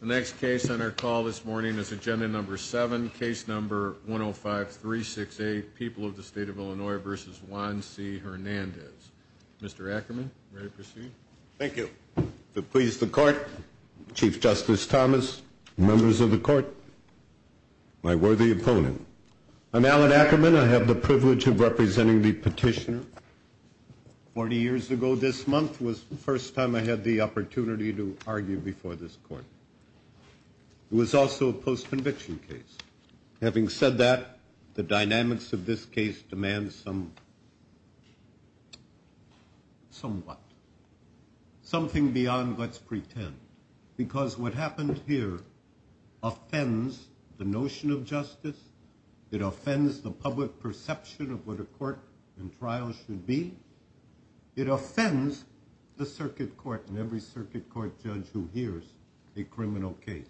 The next case on our call this morning is Agenda No. 7, Case No. 105-368, People of the State of Illinois v. Juan C. Hernandez. Mr. Ackerman, ready to proceed? Thank you. To please the Court, Chief Justice Thomas, members of the Court, my worthy opponent, I'm Alan Ackerman. I have the privilege of representing the petitioner. Forty years ago this month was the first time I had the opportunity to argue before this Court. It was also a post-conviction case. Having said that, the dynamics of this case demands some, somewhat, something beyond, let's pretend, because what happened here offends the notion of justice. It offends the public perception of what a court and it offends the circuit court and every circuit court judge who hears a criminal case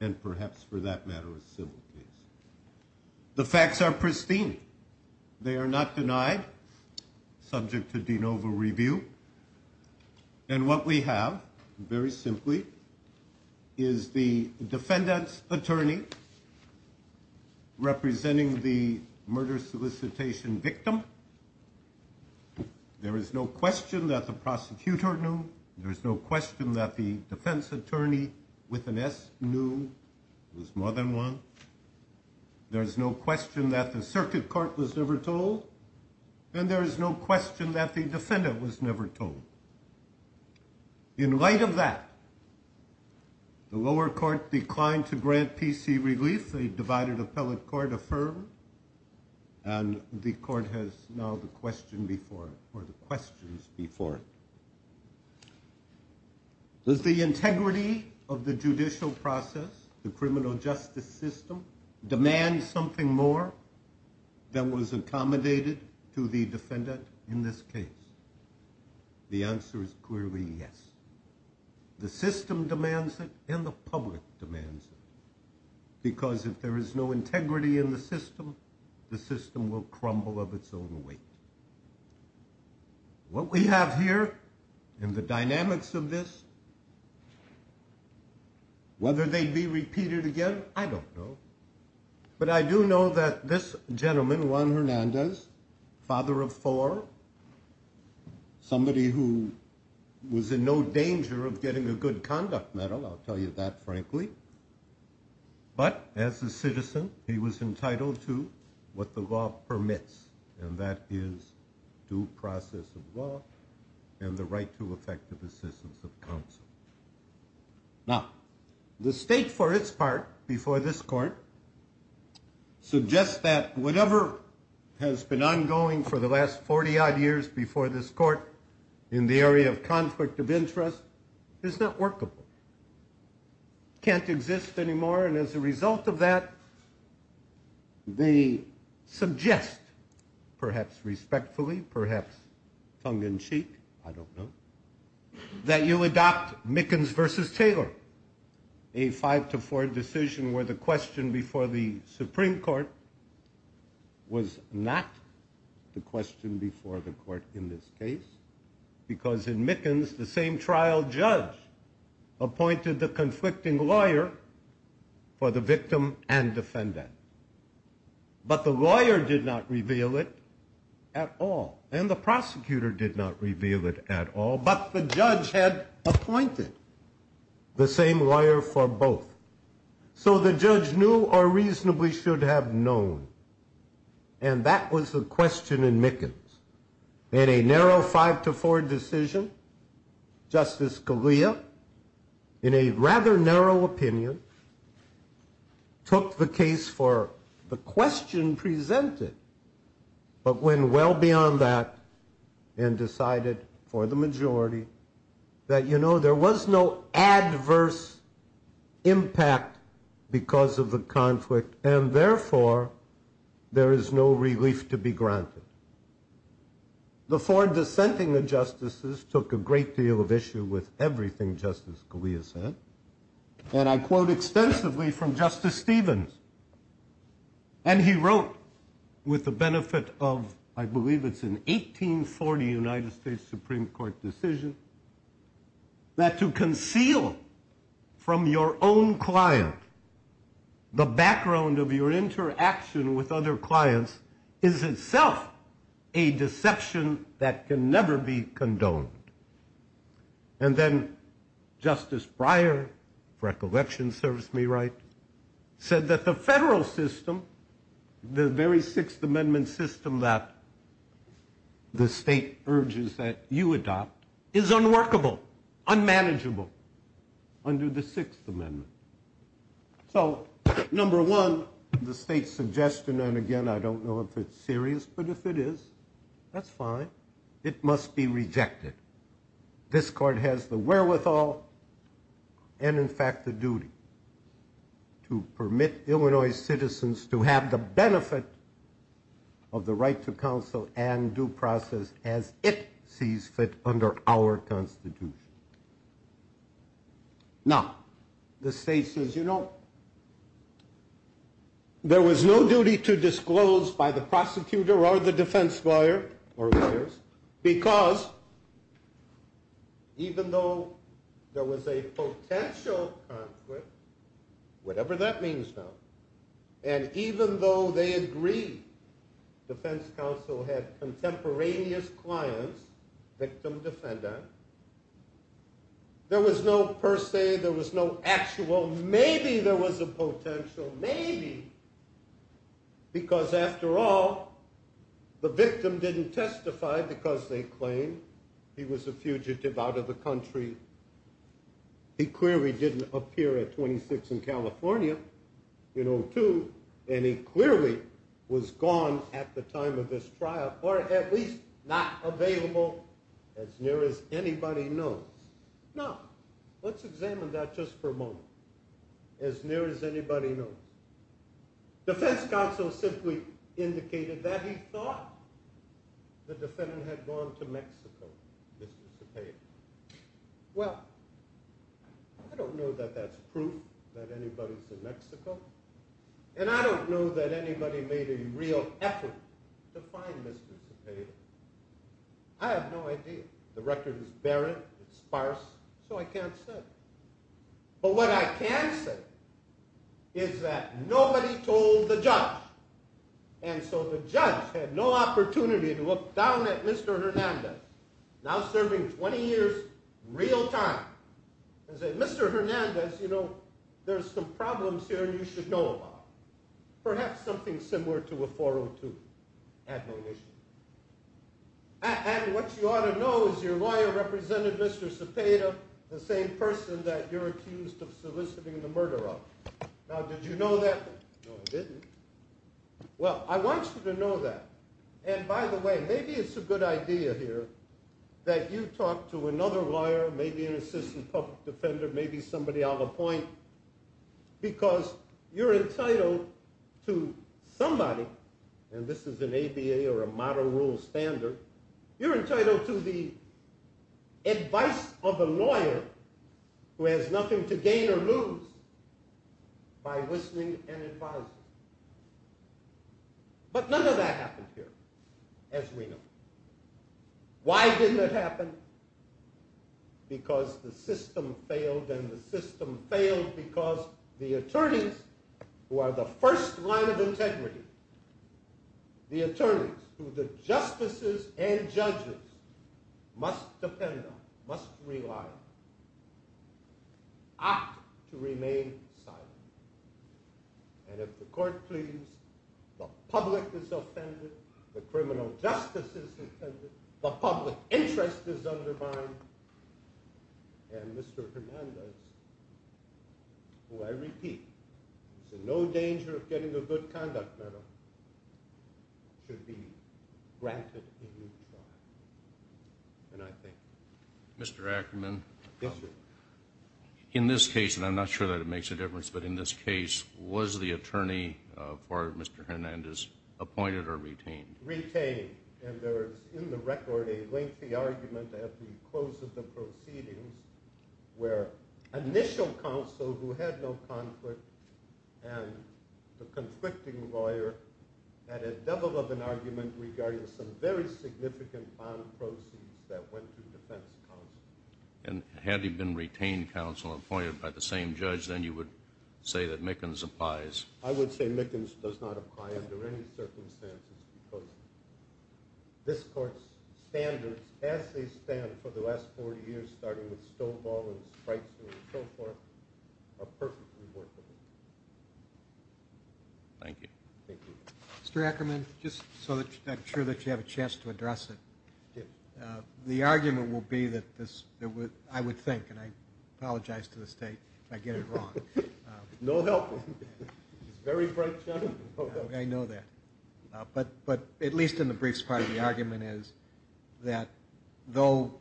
and perhaps, for that matter, a civil case. The facts are pristine. They are not denied, subject to de novo review. And what we have, very simply, is the defendant's attorney representing the murder solicitation victim. There is no question that the prosecutor knew. There is no question that the defense attorney, with an S, knew. There was more than one. There is no question that the circuit court was never told. And there is no question that the defendant was never told. In light of that, the lower court declined to grant PC relief. The divided appellate court affirmed. And the court has now the question before it, or the questions before it. Does the integrity of the judicial process, the criminal justice system, demand something more than was accommodated to the defendant in this case? The answer is clearly yes. The system demands it and the public demands it. Because if there is no integrity in the system, the system will crumble of its own weight. What we have here in the dynamics of this, whether they be repeated again, I don't know. But I do know that this was in no danger of getting a good conduct medal, I'll tell you that frankly. But as a citizen, he was entitled to what the law permits. And that is due process of law and the right to effective assistance of counsel. Now, the state, for its part, before this court, suggests that whatever has been ongoing for the last 40 odd years before this court in the area of conflict of interest is not workable, can't exist anymore. And as a result of that, they suggest, perhaps respectfully, perhaps tongue in cheek, I don't know, that you adopt Mickens versus Taylor, a five to four decision where the question before the judge, because in Mickens, the same trial judge appointed the conflicting lawyer for the victim and defendant. But the lawyer did not reveal it at all. And the prosecutor did not reveal it at all. But the judge had appointed the same lawyer for both. So the judge knew or reasonably should have known. And that was the question in Mickens. In a narrow five to four decision, Justice Scalia, in a rather narrow opinion, took the case for the question presented, but went well beyond that and decided for the majority that, you know, there was no adverse impact because of the conflict. And therefore, there is no relief to be granted. The four dissenting justices took a great deal of issue with everything Justice Scalia said. And I quote extensively from Justice Stevens. And he wrote with the benefit of, I believe it's an 1840 United States Supreme Court decision, that to conceal from your own client the background of your interaction with other clients is itself a deception that can never be condoned. And then Justice Breyer, recollection serves me right, said that the federal system, the very Sixth Amendment system that the state urges that you adopt, is unworkable, unmanageable under the Sixth Amendment. So number one, the state's suggestion, and again I don't know if it's serious, but if it is, that's fine. It must be rejected. This court has the wherewithal and in fact the duty to permit Illinois citizens to have the benefit of the right to counsel and due process as it sees fit under our Constitution. Now, the state says, you know, there was no duty to disclose by the prosecutor or the defense lawyer or lawyers, because even though there was a potential conflict, whatever that means now, and even though they agree, defense counsel had contemporaneous clients, victim-defendant, there was no per se, there was no actual, maybe there was a potential, maybe, because after all, the victim didn't testify because they claimed he was a fugitive out of the country, you know, too, and he clearly was gone at the time of this trial, or at least not available as near as anybody knows. Now, let's examine that just for a moment, as near as anybody knows. Defense counsel simply indicated that he thought the defendant had gone to Mexico, Mr. Cepeda. Well, I don't know that that's proof that anybody's in Mexico, but I don't know, and I don't know that anybody made a real effort to find Mr. Cepeda. I have no idea. The record is barren, it's sparse, so I can't say. But what I can say is that nobody told the judge, and so the judge had no opportunity to look down at Mr. Hernandez, now serving 20 years, real time, and say, Mr. Hernandez, you know, there's some problems here you should know about, perhaps something similar to a 402, at no issue. And what you ought to know is your lawyer represented Mr. Cepeda, the same person that you're accused of soliciting the murder of. Now, did you know that? No, I didn't. Well, I want you to know that, and by the way, maybe it's a good idea here that you talk to another lawyer, maybe an assistant public defender, maybe somebody on the point, because you're entitled to somebody, and this is an ABA or a model rule standard, you're entitled to the advice of a lawyer who has nothing to gain or lose by listening and advising. But none of that happened here, as we know. Why didn't it happen? Because the system failed, and the system failed because the attorneys who are the first line of integrity, the attorneys who the justices and judges must depend on, must rely on, opted to remain silent. And if the court pleases, the public is offended, the criminal justice is offended, the public interest is undermined, and Mr. Hernandez, who I repeat, is in no danger of getting a good conduct medal, should be granted a new trial. And I thank you. Mr. Ackerman, in this case, and I'm not sure that it makes a difference, but in this case, the attorney for Mr. Hernandez, appointed or retained? Retained. And there is in the record a lengthy argument at the close of the proceedings where initial counsel who had no conflict and the conflicting lawyer had a double of an argument regarding some very significant bond proceeds that went to defense counsel. And had he been retained counsel and appointed by the same judge, then you would say that I would say Mickens does not apply under any circumstances because this court's standards as they stand for the last 40 years, starting with Stovall and Spreitzer and so forth, are perfectly workable. Thank you. Mr. Ackerman, just so that I'm sure that you have a chance to address it, the argument will be that this, I would think, and I apologize to the state if I get it wrong. No help. It's very frank, gentlemen. I know that. But at least in the briefs part of the argument is that though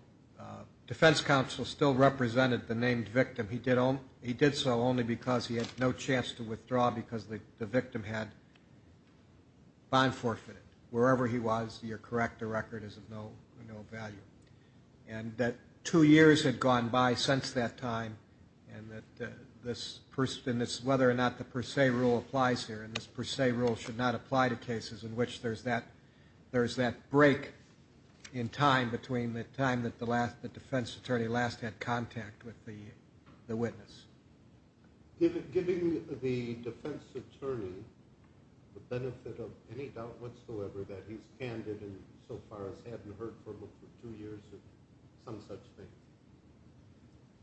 defense counsel still represented the named victim, he did so only because he had no chance to withdraw because the victim had bond forfeited. Wherever he was, you're correct, the record is of no value. And that two years had gone by since that time and that this, whether or not the per se rule applies here, and this per se rule should not apply to cases in which there's that break in time between the time that the defense attorney last had contact with the witness. Given the defense attorney, the benefit of any doubt whatsoever that he's candid and so far has hadn't heard from him for two years or some such thing,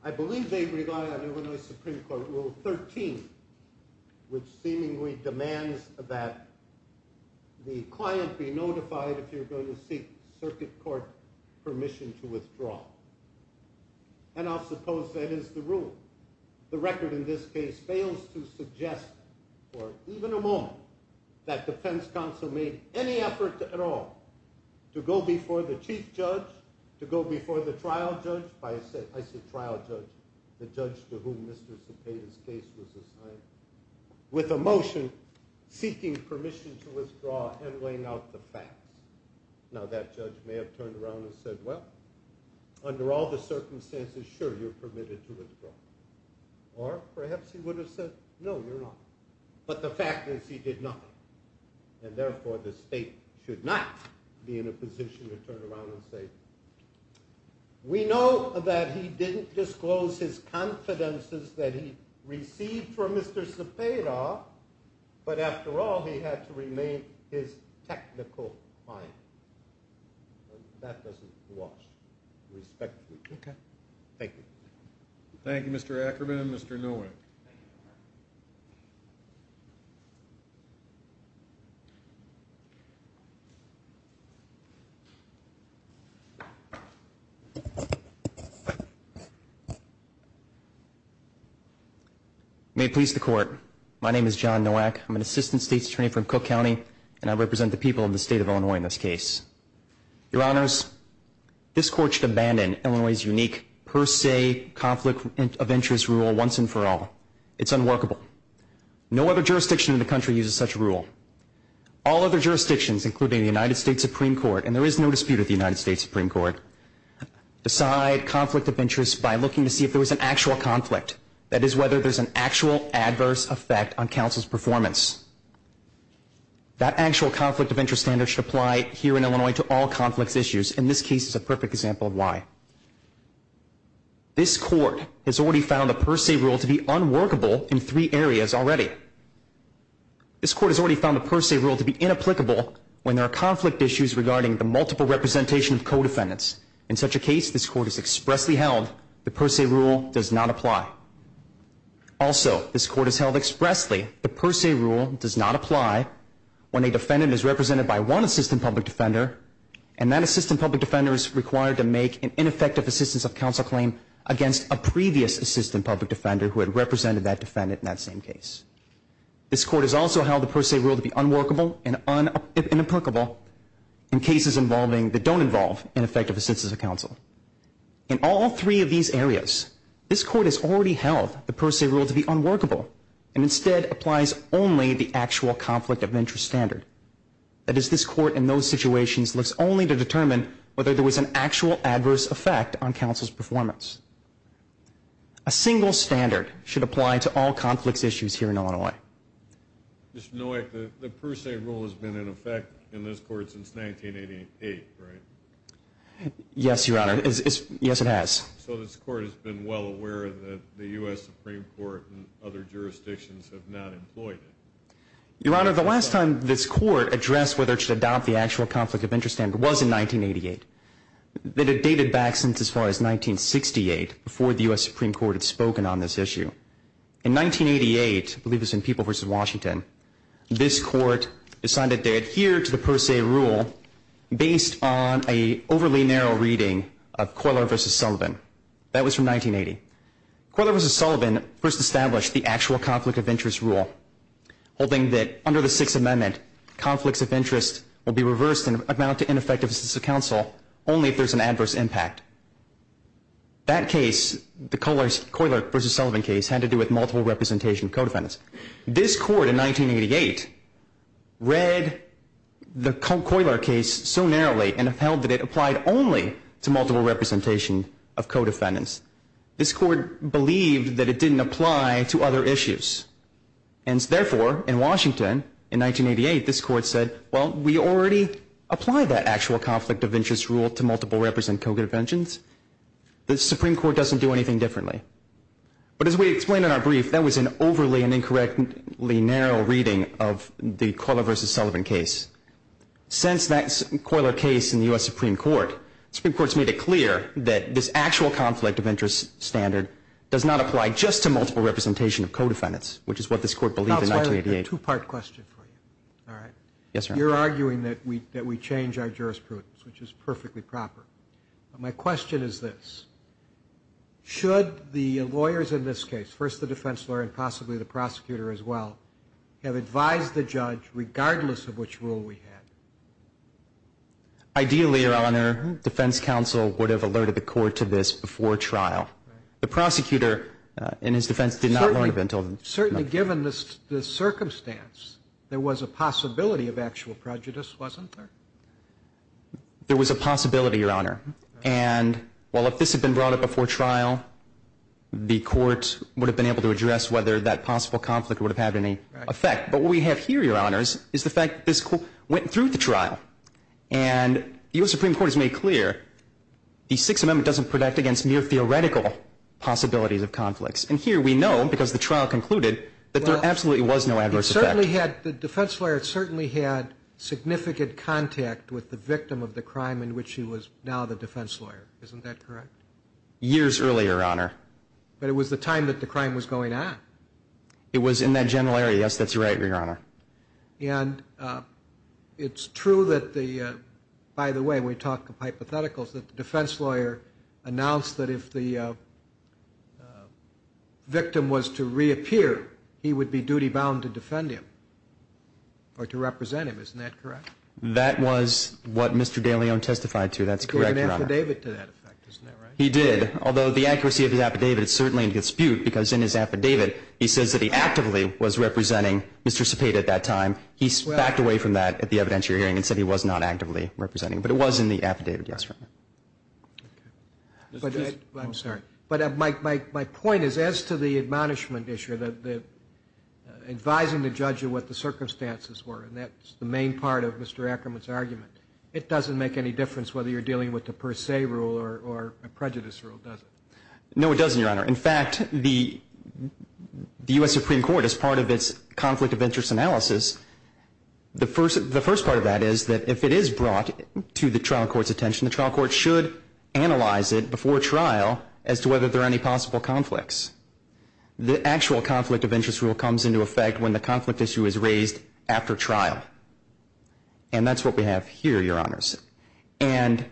I believe they rely on Illinois Supreme Court Rule 13, which seemingly demands that the client be notified if you're seeking circuit court permission to withdraw. And I suppose that is the rule. The record in this case fails to suggest for even a moment that defense counsel made any effort at all to go before the chief judge, to go before the trial judge, I said trial judge, the judge to whom Mr. Cepeda's case was assigned, with a motion seeking permission to withdraw and now that judge may have turned around and said, well, under all the circumstances, sure, you're permitted to withdraw. Or perhaps he would have said, no, you're not. But the fact is he did nothing. And therefore the state should not be in a position to turn around and say, we know that he didn't disclose his confidences that he received from Mr. Cepeda, but after all, he had to remain his technical client. That doesn't wash respectfully. Okay. Thank you. Thank you, Mr. Ackerman and Mr. Nowak. May it please the court. My name is John Nowak. I'm an assistant state attorney from Cook County and I represent the people of the state of Illinois in this case. Your honors, this court Illinois' unique per se conflict of interest rule once and for all. It's unworkable. No other jurisdiction in the country uses such a rule. All other jurisdictions, including the United States Supreme Court, and there is no dispute with the United States Supreme Court, decide conflict of interest by looking to see if there was an actual conflict. That is whether there's an actual adverse effect on counsel's performance. That actual conflict of interest standard should apply here in Illinois to all conflicts issues, and this case is a perfect example of why. This court has already found the per se rule to be unworkable in three areas already. This court has already found the per se rule to be inapplicable when there are conflict issues regarding the multiple representation of co-defendants. In such a case, this court has expressly held the per se rule does not apply. Also, this court has held expressly the per se rule does not apply when a defendant is represented by one assistant public defender, and that assistant public defender is required to make an ineffective assistance of counsel claim against a previous assistant public defender who had represented that defendant in that same case. This court has also held the per se rule to be unworkable and inapplicable in cases involving that don't involve ineffective assistance of counsel. In all three of these areas, this court has already held the per se rule to be unworkable and instead applies only the actual conflict of interest standard. That is, this court in those situations looks only to determine whether there was an actual adverse effect on counsel's performance. A single standard should apply to all conflicts issues here in Illinois. Mr. Nowak, the per se rule has been in effect in this court since 1988, right? Yes, Your Honor. Yes, it has. So this court has been well aware that the U.S. Supreme Court and other jurisdictions have not employed it. Your Honor, the last time this court addressed whether it should adopt the actual conflict of interest standard was in 1988. It had dated back since as far as 1968, before the U.S. Supreme Court had spoken on this issue. In 1988, I believe it was in People v. Washington, this court decided to adhere to the per se rule based on an overly narrow reading of Coiler v. Sullivan. That was from 1980. Coiler v. Sullivan first established the actual conflict of interest rule, holding that under the Sixth Amendment, conflicts of interest will be reversed and amount to ineffective assistance of counsel only if there's an adverse impact. That case, the Coiler v. Sullivan case, had to do with multiple representation of co-defendants. This court in 1988 read the Coiler case so narrowly and upheld that it applied only to multiple representation of co-defendants. This court believed that it didn't apply to other issues. And therefore, in Washington, in 1988, this court said, well, we already apply that actual conflict of interest rule to multiple represent co-defendants. The Supreme Court doesn't do anything differently. But as we explained in our brief, that was an overly and incorrectly narrow reading of the Coiler v. Sullivan case. Since that Coiler case in the U.S. Supreme Court, Supreme Court's made it clear that this actual conflict of interest standard does not apply just to multiple representation of co-defendants, which is what this court believed in 1988. I have a two-part question for you. You're arguing that we change our jurisprudence, which is perfectly proper. My question is this. Should the lawyers in this case, first the defense lawyer and possibly the prosecutor as well, have advised the judge regardless of which rule we had? Ideally, Your Honor, defense counsel would have alerted the court to this before trial. The prosecutor in his defense did not learn of it until... Certainly given the circumstance, there was a possibility of actual prejudice, wasn't there? There was a possibility, Your Honor. And while if this had been brought up before trial, the court would have been able to address whether that possible conflict would have had any effect. But what we have here, Your Honor, is the fact that this went through the trial. And the U.S. Supreme Court has made clear the Sixth Amendment doesn't protect against mere theoretical possibilities of conflicts. And here we know, because the trial concluded, that there absolutely was no adverse effect. The defense lawyer certainly had significant contact with the victim of the crime in which he was now the defense lawyer. Isn't that correct? Years earlier, Your Honor. But it was the time that the crime was going on. It was in that general area. Yes, that's right, Your Honor. And it's true that the, by the way, we talk of hypotheticals, that the defense lawyer announced that if the victim was to reappear, he would be duty-bound to defend him or to represent him. Isn't that correct? That was what Mr. DeLeon testified to. That's correct, Your Honor. He gave an affidavit to that effect. Isn't that right? He did. Although the accuracy of his affidavit is certainly in dispute, because in his affidavit he says that he actively was representing Mr. Cepeda at that time. He backed away from that at the evidentiary hearing and said he was not actively representing. But it was in the affidavit. Yes, Your Honor. I'm sorry. But my point is, as to the admonishment issue, advising the judge of what the circumstances were, and that's the main part of Mr. Ackerman's argument, it doesn't make any difference whether you're dealing with the per se rule or a prejudice rule, does it? No, it doesn't, Your Honor. In fact, the U.S. Supreme Court, as part of its conflict of interest analysis, the first part of that is that if it is brought to the trial court's attention, the trial court should analyze it before trial as to whether there are any possible conflicts. The actual conflict of interest rule comes into effect when the conflict issue is raised after trial. And that's what we have here, Your Honors. And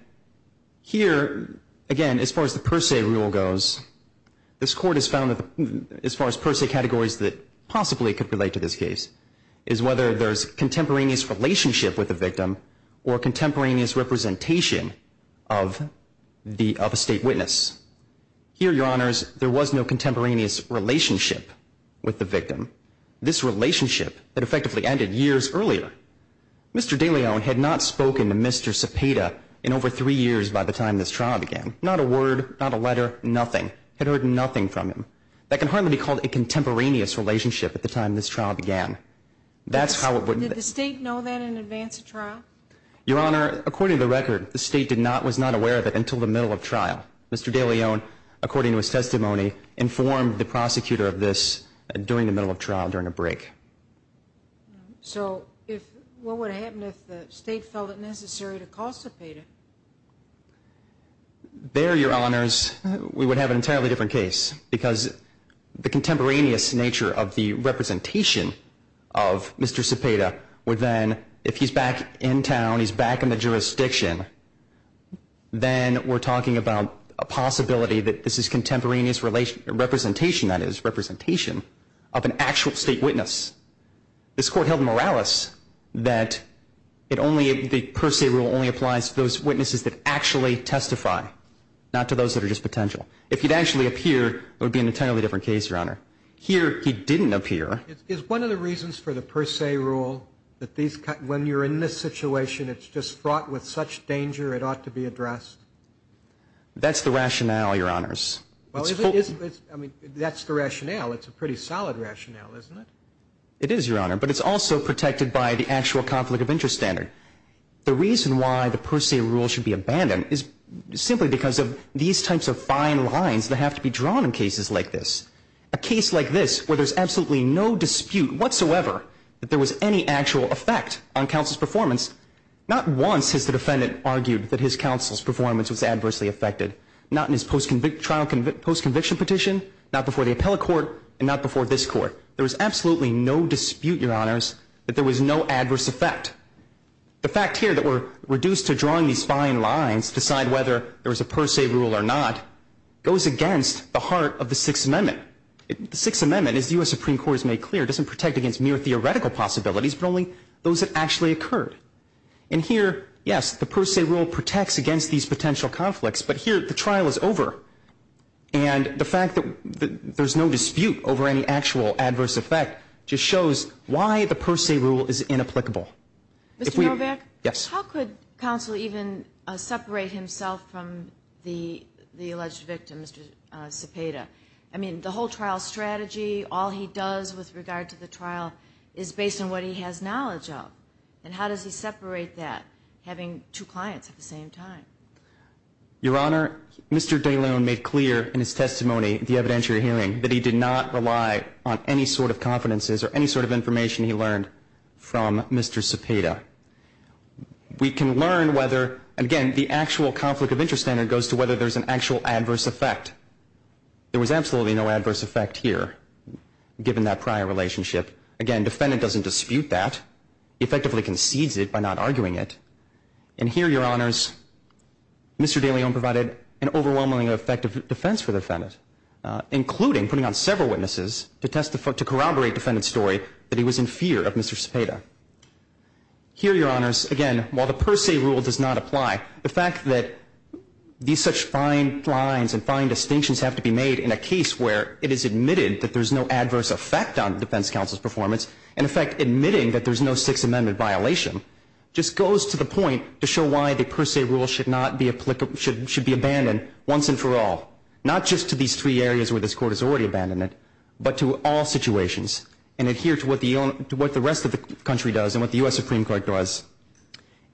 here, again, as far as the per se rule goes, this Court has found that as far as per se categories that possibly could relate to this case is whether there's contemporaneous relationship with the victim or contemporaneous representation of a state witness. Here, Your Honors, there was no contemporaneous relationship with the victim. This relationship had effectively ended years earlier. Mr. DeLeon had not spoken to Mr. Cepeda in over three years by the time this trial began. Not a word, not a letter, nothing. Had heard nothing from him. That can hardly be called a contemporaneous relationship at the time this trial began. That's how it would... Did the state know that in advance of trial? Your Honor, according to the record, the state was not aware of it until the middle of trial. Mr. DeLeon, according to his testimony, informed the prosecutor of this during the middle of trial during a break. So what would happen if the state felt it necessary to call Cepeda? There, Your Honors, we would have an entirely different case because the contemporaneous nature of the representation of Mr. Cepeda would then, if he's back in town, he's back in the jurisdiction, then we're talking about a possibility that this is contemporaneous representation, that is, representation of an actual state witness. This Court held moralis that the per se rule only applies to those witnesses that actually testify, not to those that are just potential. If he'd actually appear, it would be an entirely different case, Your Honor. Here, he didn't appear. Is one of the reasons for the per se rule that when you're in this situation, it's just fraught with such danger it ought to be addressed? That's the rationale, Your Honors. I mean, that's the rationale. It's a pretty solid rationale, isn't it? It is, Your Honor, but it's also protected by the actual conflict of interest standard. The reason why the per se rule should be abandoned is simply because of these types of fine lines that have to be drawn in cases like this. A case like this where there's absolutely no dispute whatsoever that there was any actual effect on counsel's performance, not once has the defendant argued that his counsel's performance was adversely affected, not in his trial post-conviction petition, not before the appellate court, and not before this court. There was absolutely no dispute, Your Honors, that there was no adverse effect. The fact here that we're reduced to drawing these fine lines to decide whether there was a per se rule or not goes against the heart of the Sixth Amendment. The Sixth Amendment, as the U.S. Supreme Court has made clear, doesn't protect against mere theoretical possibilities but only those that actually occurred. And here, yes, the per se rule protects against these potential conflicts, but here the trial is over. And the fact that there's no dispute over any actual adverse effect just shows why the per se rule is inapplicable. If we're going back. Yes. How could counsel even separate himself from the alleged victim, Mr. Cepeda? I mean, the whole trial strategy, all he does with regard to the trial, is based on what he has knowledge of. And how does he separate that, having two clients at the same time? Your Honor, Mr. De Loon made clear in his testimony at the evidentiary hearing that he did not rely on any sort of confidences or any sort of information he learned from Mr. Cepeda. We can learn whether, again, the actual conflict of interest standard goes to whether there's an actual adverse effect. There was absolutely no adverse effect here, given that prior relationship. Again, defendant doesn't dispute that. He effectively concedes it by not arguing it. And here, Your Honors, Mr. De Loon provided an overwhelmingly effective defense for the defendant, including putting on several witnesses to corroborate defendant's story that he was in fear of Mr. Cepeda. Here, Your Honors, again, while the per se rule does not apply, the fact that these such fine lines and fine distinctions have to be made in a case where it is admitted that there's no adverse effect on defense counsel's performance, in effect admitting that there's no Sixth Amendment violation, just goes to the point to show why the per se rule should be abandoned once and for all, not just to these three areas where this Court has already abandoned it, but to all situations, and adhere to what the rest of the country does and what the U.S. Supreme Court does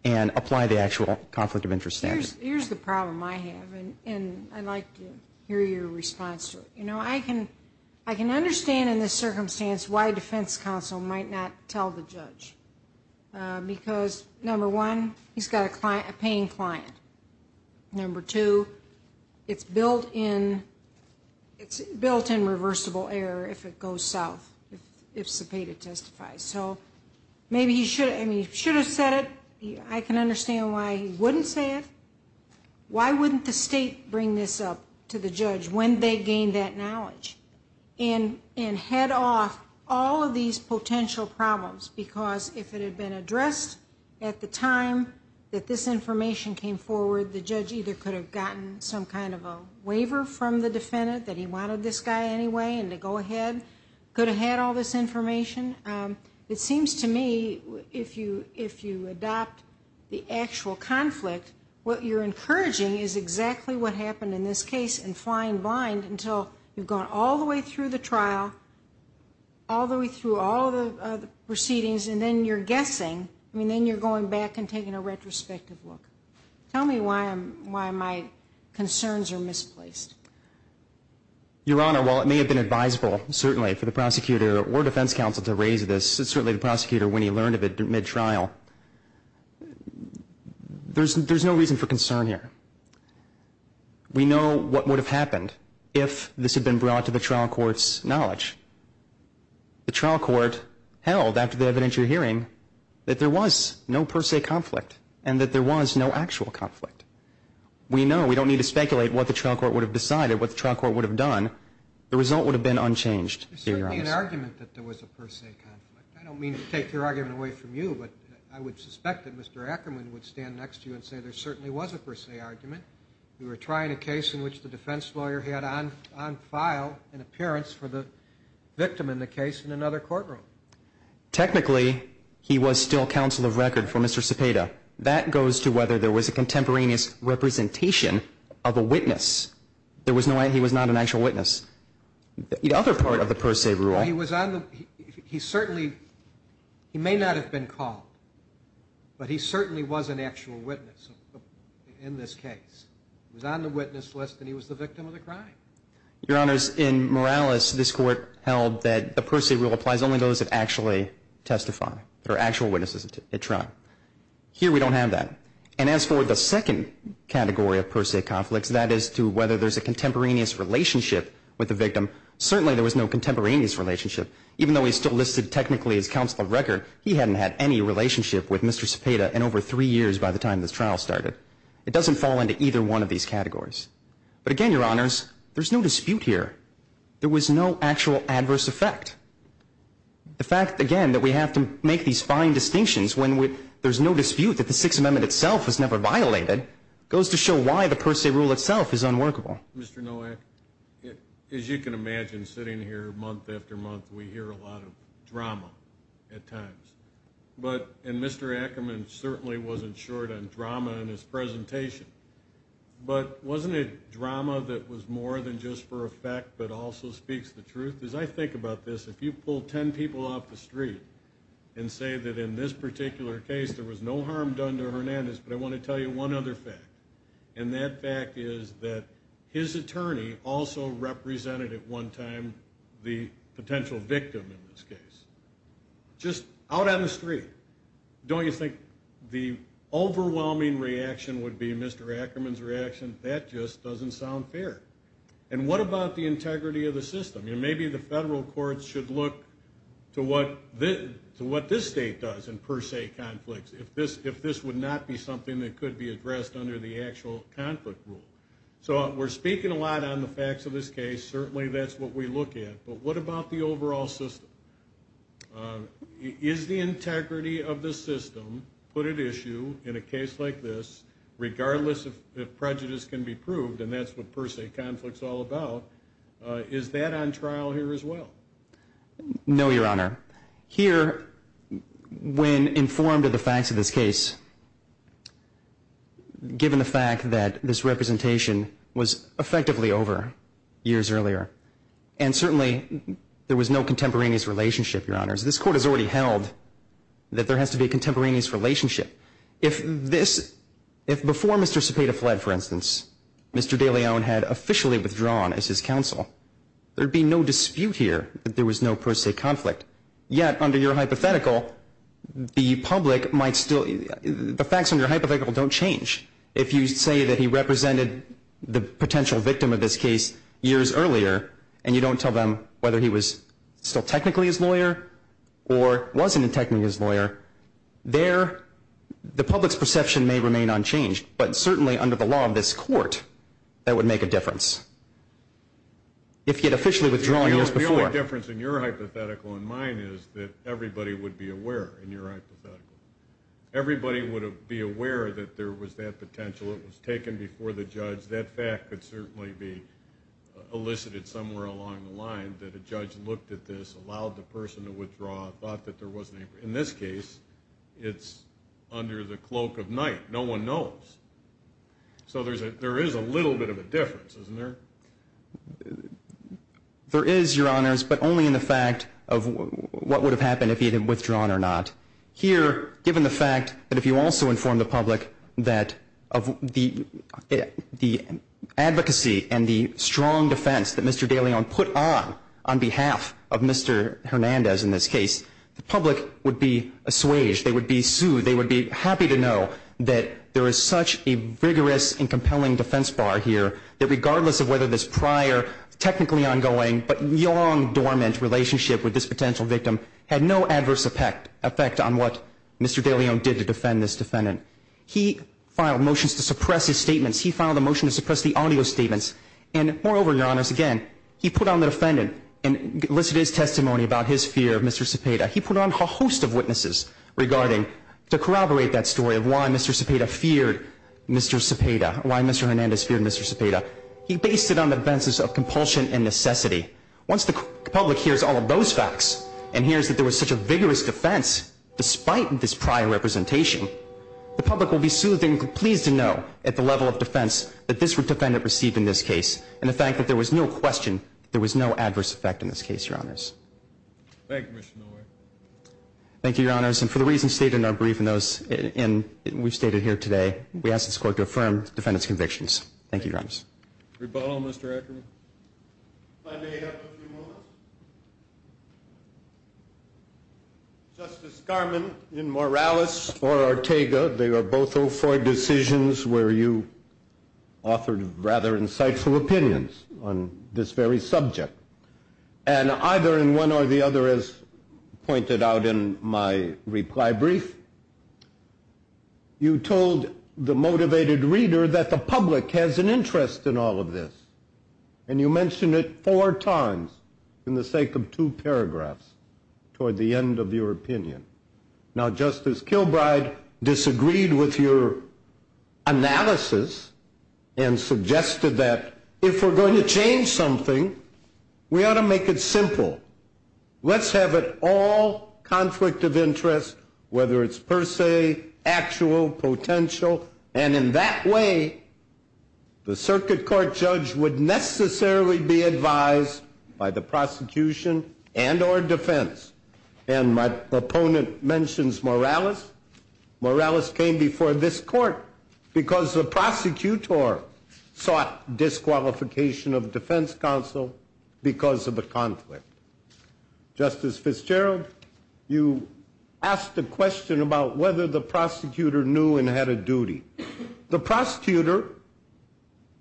and apply the actual conflict of interest standard. Here's the problem I have, and I'd like to hear your response to it. You know, I can understand in this circumstance why defense counsel might not tell the judge. Because, number one, he's got a paying client. Number two, it's built in reversible error if it goes south, if Cepeda testifies. So maybe he should have said it. I can understand why he wouldn't say it. Why wouldn't the state bring this up to the judge when they gained that knowledge and head off all of these potential problems? Because if it had been addressed at the time that this information came forward, the judge either could have gotten some kind of a waiver from the defendant that he wanted this guy anyway and to go ahead, could have had all this information. It seems to me if you adopt the actual conflict, what you're encouraging is exactly what happened in this case and flying blind until you've gone all the way through the trial, all the way through all the proceedings, and then you're guessing. I mean, then you're going back and taking a retrospective look. Tell me why my concerns are misplaced. Your Honor, while it may have been advisable, certainly, for the prosecutor or defense counsel to raise this, certainly the prosecutor, when he learned of it mid-trial, there's no reason for concern here. We know what would have happened if this had been brought to the trial court's knowledge. The trial court held, after the evidence you're hearing, that there was no per se conflict and that there was no actual conflict. We know. We don't need to speculate what the trial court would have decided, what the trial court would have done. The result would have been unchanged. There's certainly an argument that there was a per se conflict. I don't mean to take your argument away from you, but I would suspect that Mr. Ackerman would stand next to you and say there certainly was a per se argument. You were trying a case in which the defense lawyer had on file an appearance for the victim in the case in another courtroom. Technically, he was still counsel of record for Mr. Cepeda. That goes to whether there was a contemporaneous representation of a witness. There was no way he was not an actual witness. The other part of the per se rule... He was on the... He certainly... He may not have been called, but he certainly was an actual witness in this case. He was on the witness list, and he was the victim of the crime. Your Honors, in Morales, this Court held that the per se rule applies only to those that actually testify, that are actual witnesses at trial. Here, we don't have that. And as for the second category of per se conflicts, that is to whether there's a contemporaneous relationship with the victim, certainly there was no contemporaneous relationship. Even though he's still listed technically as counsel of record, he hadn't had any relationship with Mr. Cepeda in over three years by the time this trial started. It doesn't fall into either one of these categories. But again, Your Honors, there's no dispute here. There was no actual adverse effect. The fact, again, that we have to make these fine distinctions when there's no dispute that the Sixth Amendment itself was never violated goes to show why the per se rule itself is unworkable. Mr. Nowak, as you can imagine, sitting here month after month, we hear a lot of drama at times. And Mr. Ackerman certainly wasn't short on drama in his presentation. But wasn't it drama that was more than just for effect but also speaks the truth? As I think about this, if you pull ten people off the street and say that in this particular case there was no harm done to Hernandez, but I want to tell you one other fact, and that fact is that his attorney also represented at one time the potential victim in this case. Just out on the street. Don't you think the overwhelming reaction would be Mr. Ackerman's reaction? That just doesn't sound fair. And what about the integrity of the system? Maybe the federal courts should look to what this state does in per se conflicts if this would not be something that could be addressed under the actual conflict rule. So we're speaking a lot on the facts of this case. Certainly that's what we look at. But what about the overall system? Is the integrity of the system put at issue in a case like this, regardless if prejudice can be proved, and that's what per se conflict is all about, is that on trial here as well? No, Your Honor. Here, when informed of the facts of this case, given the fact that this representation was effectively over years earlier and certainly there was no contemporaneous relationship, Your Honors, this court has already held that there has to be a contemporaneous relationship. If before Mr. Cepeda fled, for instance, Mr. de Leon had officially withdrawn as his counsel, there would be no dispute here that there was no per se conflict. Yet under your hypothetical, the facts under your hypothetical don't change. If you say that he represented the potential victim of this case years earlier and you don't tell them whether he was still technically his lawyer or wasn't technically his lawyer, the public's perception may remain unchanged. But certainly under the law of this court, that would make a difference. If he had officially withdrawn years before. The only difference in your hypothetical and mine is that everybody would be aware in your hypothetical. Everybody would be aware that there was that potential. It was taken before the judge. That fact could certainly be elicited somewhere along the line that a judge looked at this, allowed the person to withdraw, thought that there wasn't any. In this case, it's under the cloak of night. No one knows. So there is a little bit of a difference, isn't there? There is, Your Honors, but only in the fact of what would have happened if he had withdrawn or not. Here, given the fact that if you also inform the public that of the advocacy and the strong defense that Mr. De Leon put on on behalf of Mr. Hernandez in this case, the public would be assuaged, they would be soothed, they would be happy to know that there is such a vigorous and compelling defense bar here, that regardless of whether this prior technically ongoing but long dormant relationship with this potential victim had no adverse effect on what Mr. De Leon did to defend this defendant. He filed motions to suppress his statements. He filed a motion to suppress the audio statements. And moreover, Your Honors, again, he put on the defendant and elicited his testimony about his fear of Mr. Cepeda. He put on a host of witnesses to corroborate that story of why Mr. Cepeda feared Mr. Cepeda, why Mr. Hernandez feared Mr. Cepeda. He based it on the defenses of compulsion and necessity. Once the public hears all of those facts and hears that there was such a vigorous defense despite this prior representation, the public will be soothed and pleased to know at the level of defense that this defendant received in this case and the fact that there was no question that there was no adverse effect in this case, Your Honors. Thank you, Commissioner Miller. Thank you, Your Honors. And for the reasons stated in our brief and those we've stated here today, we ask this Court to affirm the defendant's convictions. Thank you, Your Honors. Rebuttal, Mr. Eckerman. If I may have a few moments. Justice Garmon, in Morales or Ortega, they are both 0-4 decisions where you authored rather insightful opinions on this very subject. And either in one or the other, as pointed out in my reply brief, you told the motivated reader that the public has an interest in all of this. And you mentioned it four times in the sake of two paragraphs toward the end of your opinion. Now, Justice Kilbride disagreed with your analysis and suggested that if we're going to change something, we ought to make it simple. Let's have it all conflict of interest, whether it's per se, actual, potential. And in that way, the Circuit Court judge would necessarily be advised by the prosecution and or defense. And my opponent mentions Morales. Morales came before this Court because the prosecutor sought disqualification of defense counsel because of the conflict. Justice Fitzgerald, you asked a question about whether the prosecutor knew and had a duty. The prosecutor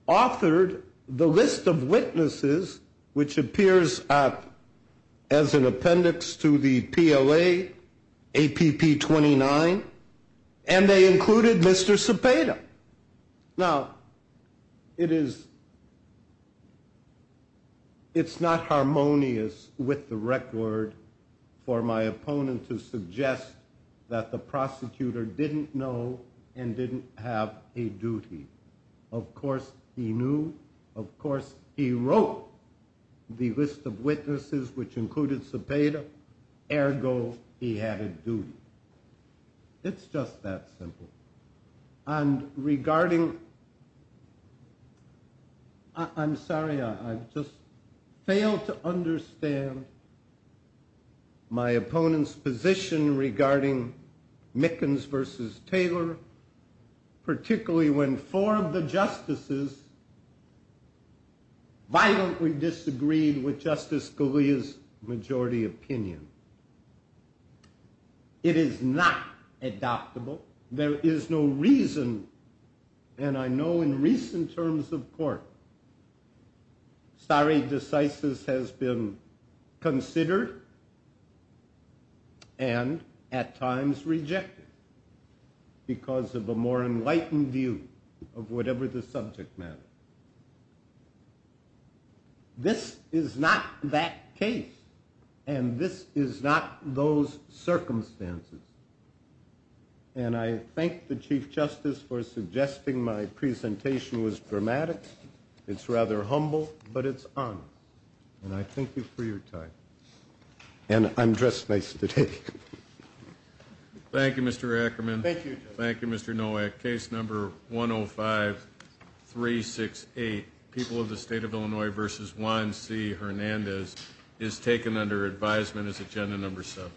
authored the list of witnesses, which appears as an appendix to the PLA APP 29, and they included Mr. Cepeda. Now, it's not harmonious with the record for my opponent to suggest that the prosecutor didn't know and didn't have a duty. Of course, he knew. Of course, he wrote the list of witnesses, which included Cepeda. Ergo, he had a duty. It's just that simple. And regarding... I'm sorry, I've just failed to understand my opponent's position regarding Mickens versus Taylor, particularly when four of the justices violently disagreed with Justice Scalia's majority opinion. It is not adoptable. There is no reason, and I know in recent terms of court, stare decisis has been considered and at times rejected because of a more enlightened view of whatever the subject matter. This is not that case, and this is not those circumstances. And I thank the Chief Justice for suggesting my presentation was dramatic. It's rather humble, but it's honest. And I thank you for your time. And I'm dressed nice today. Thank you, Mr. Ackerman. Thank you. Thank you, Mr. Nowak. Case number 105-368, People of the State of Illinois versus Juan C. Hernandez, is taken under advisement as agenda number seven.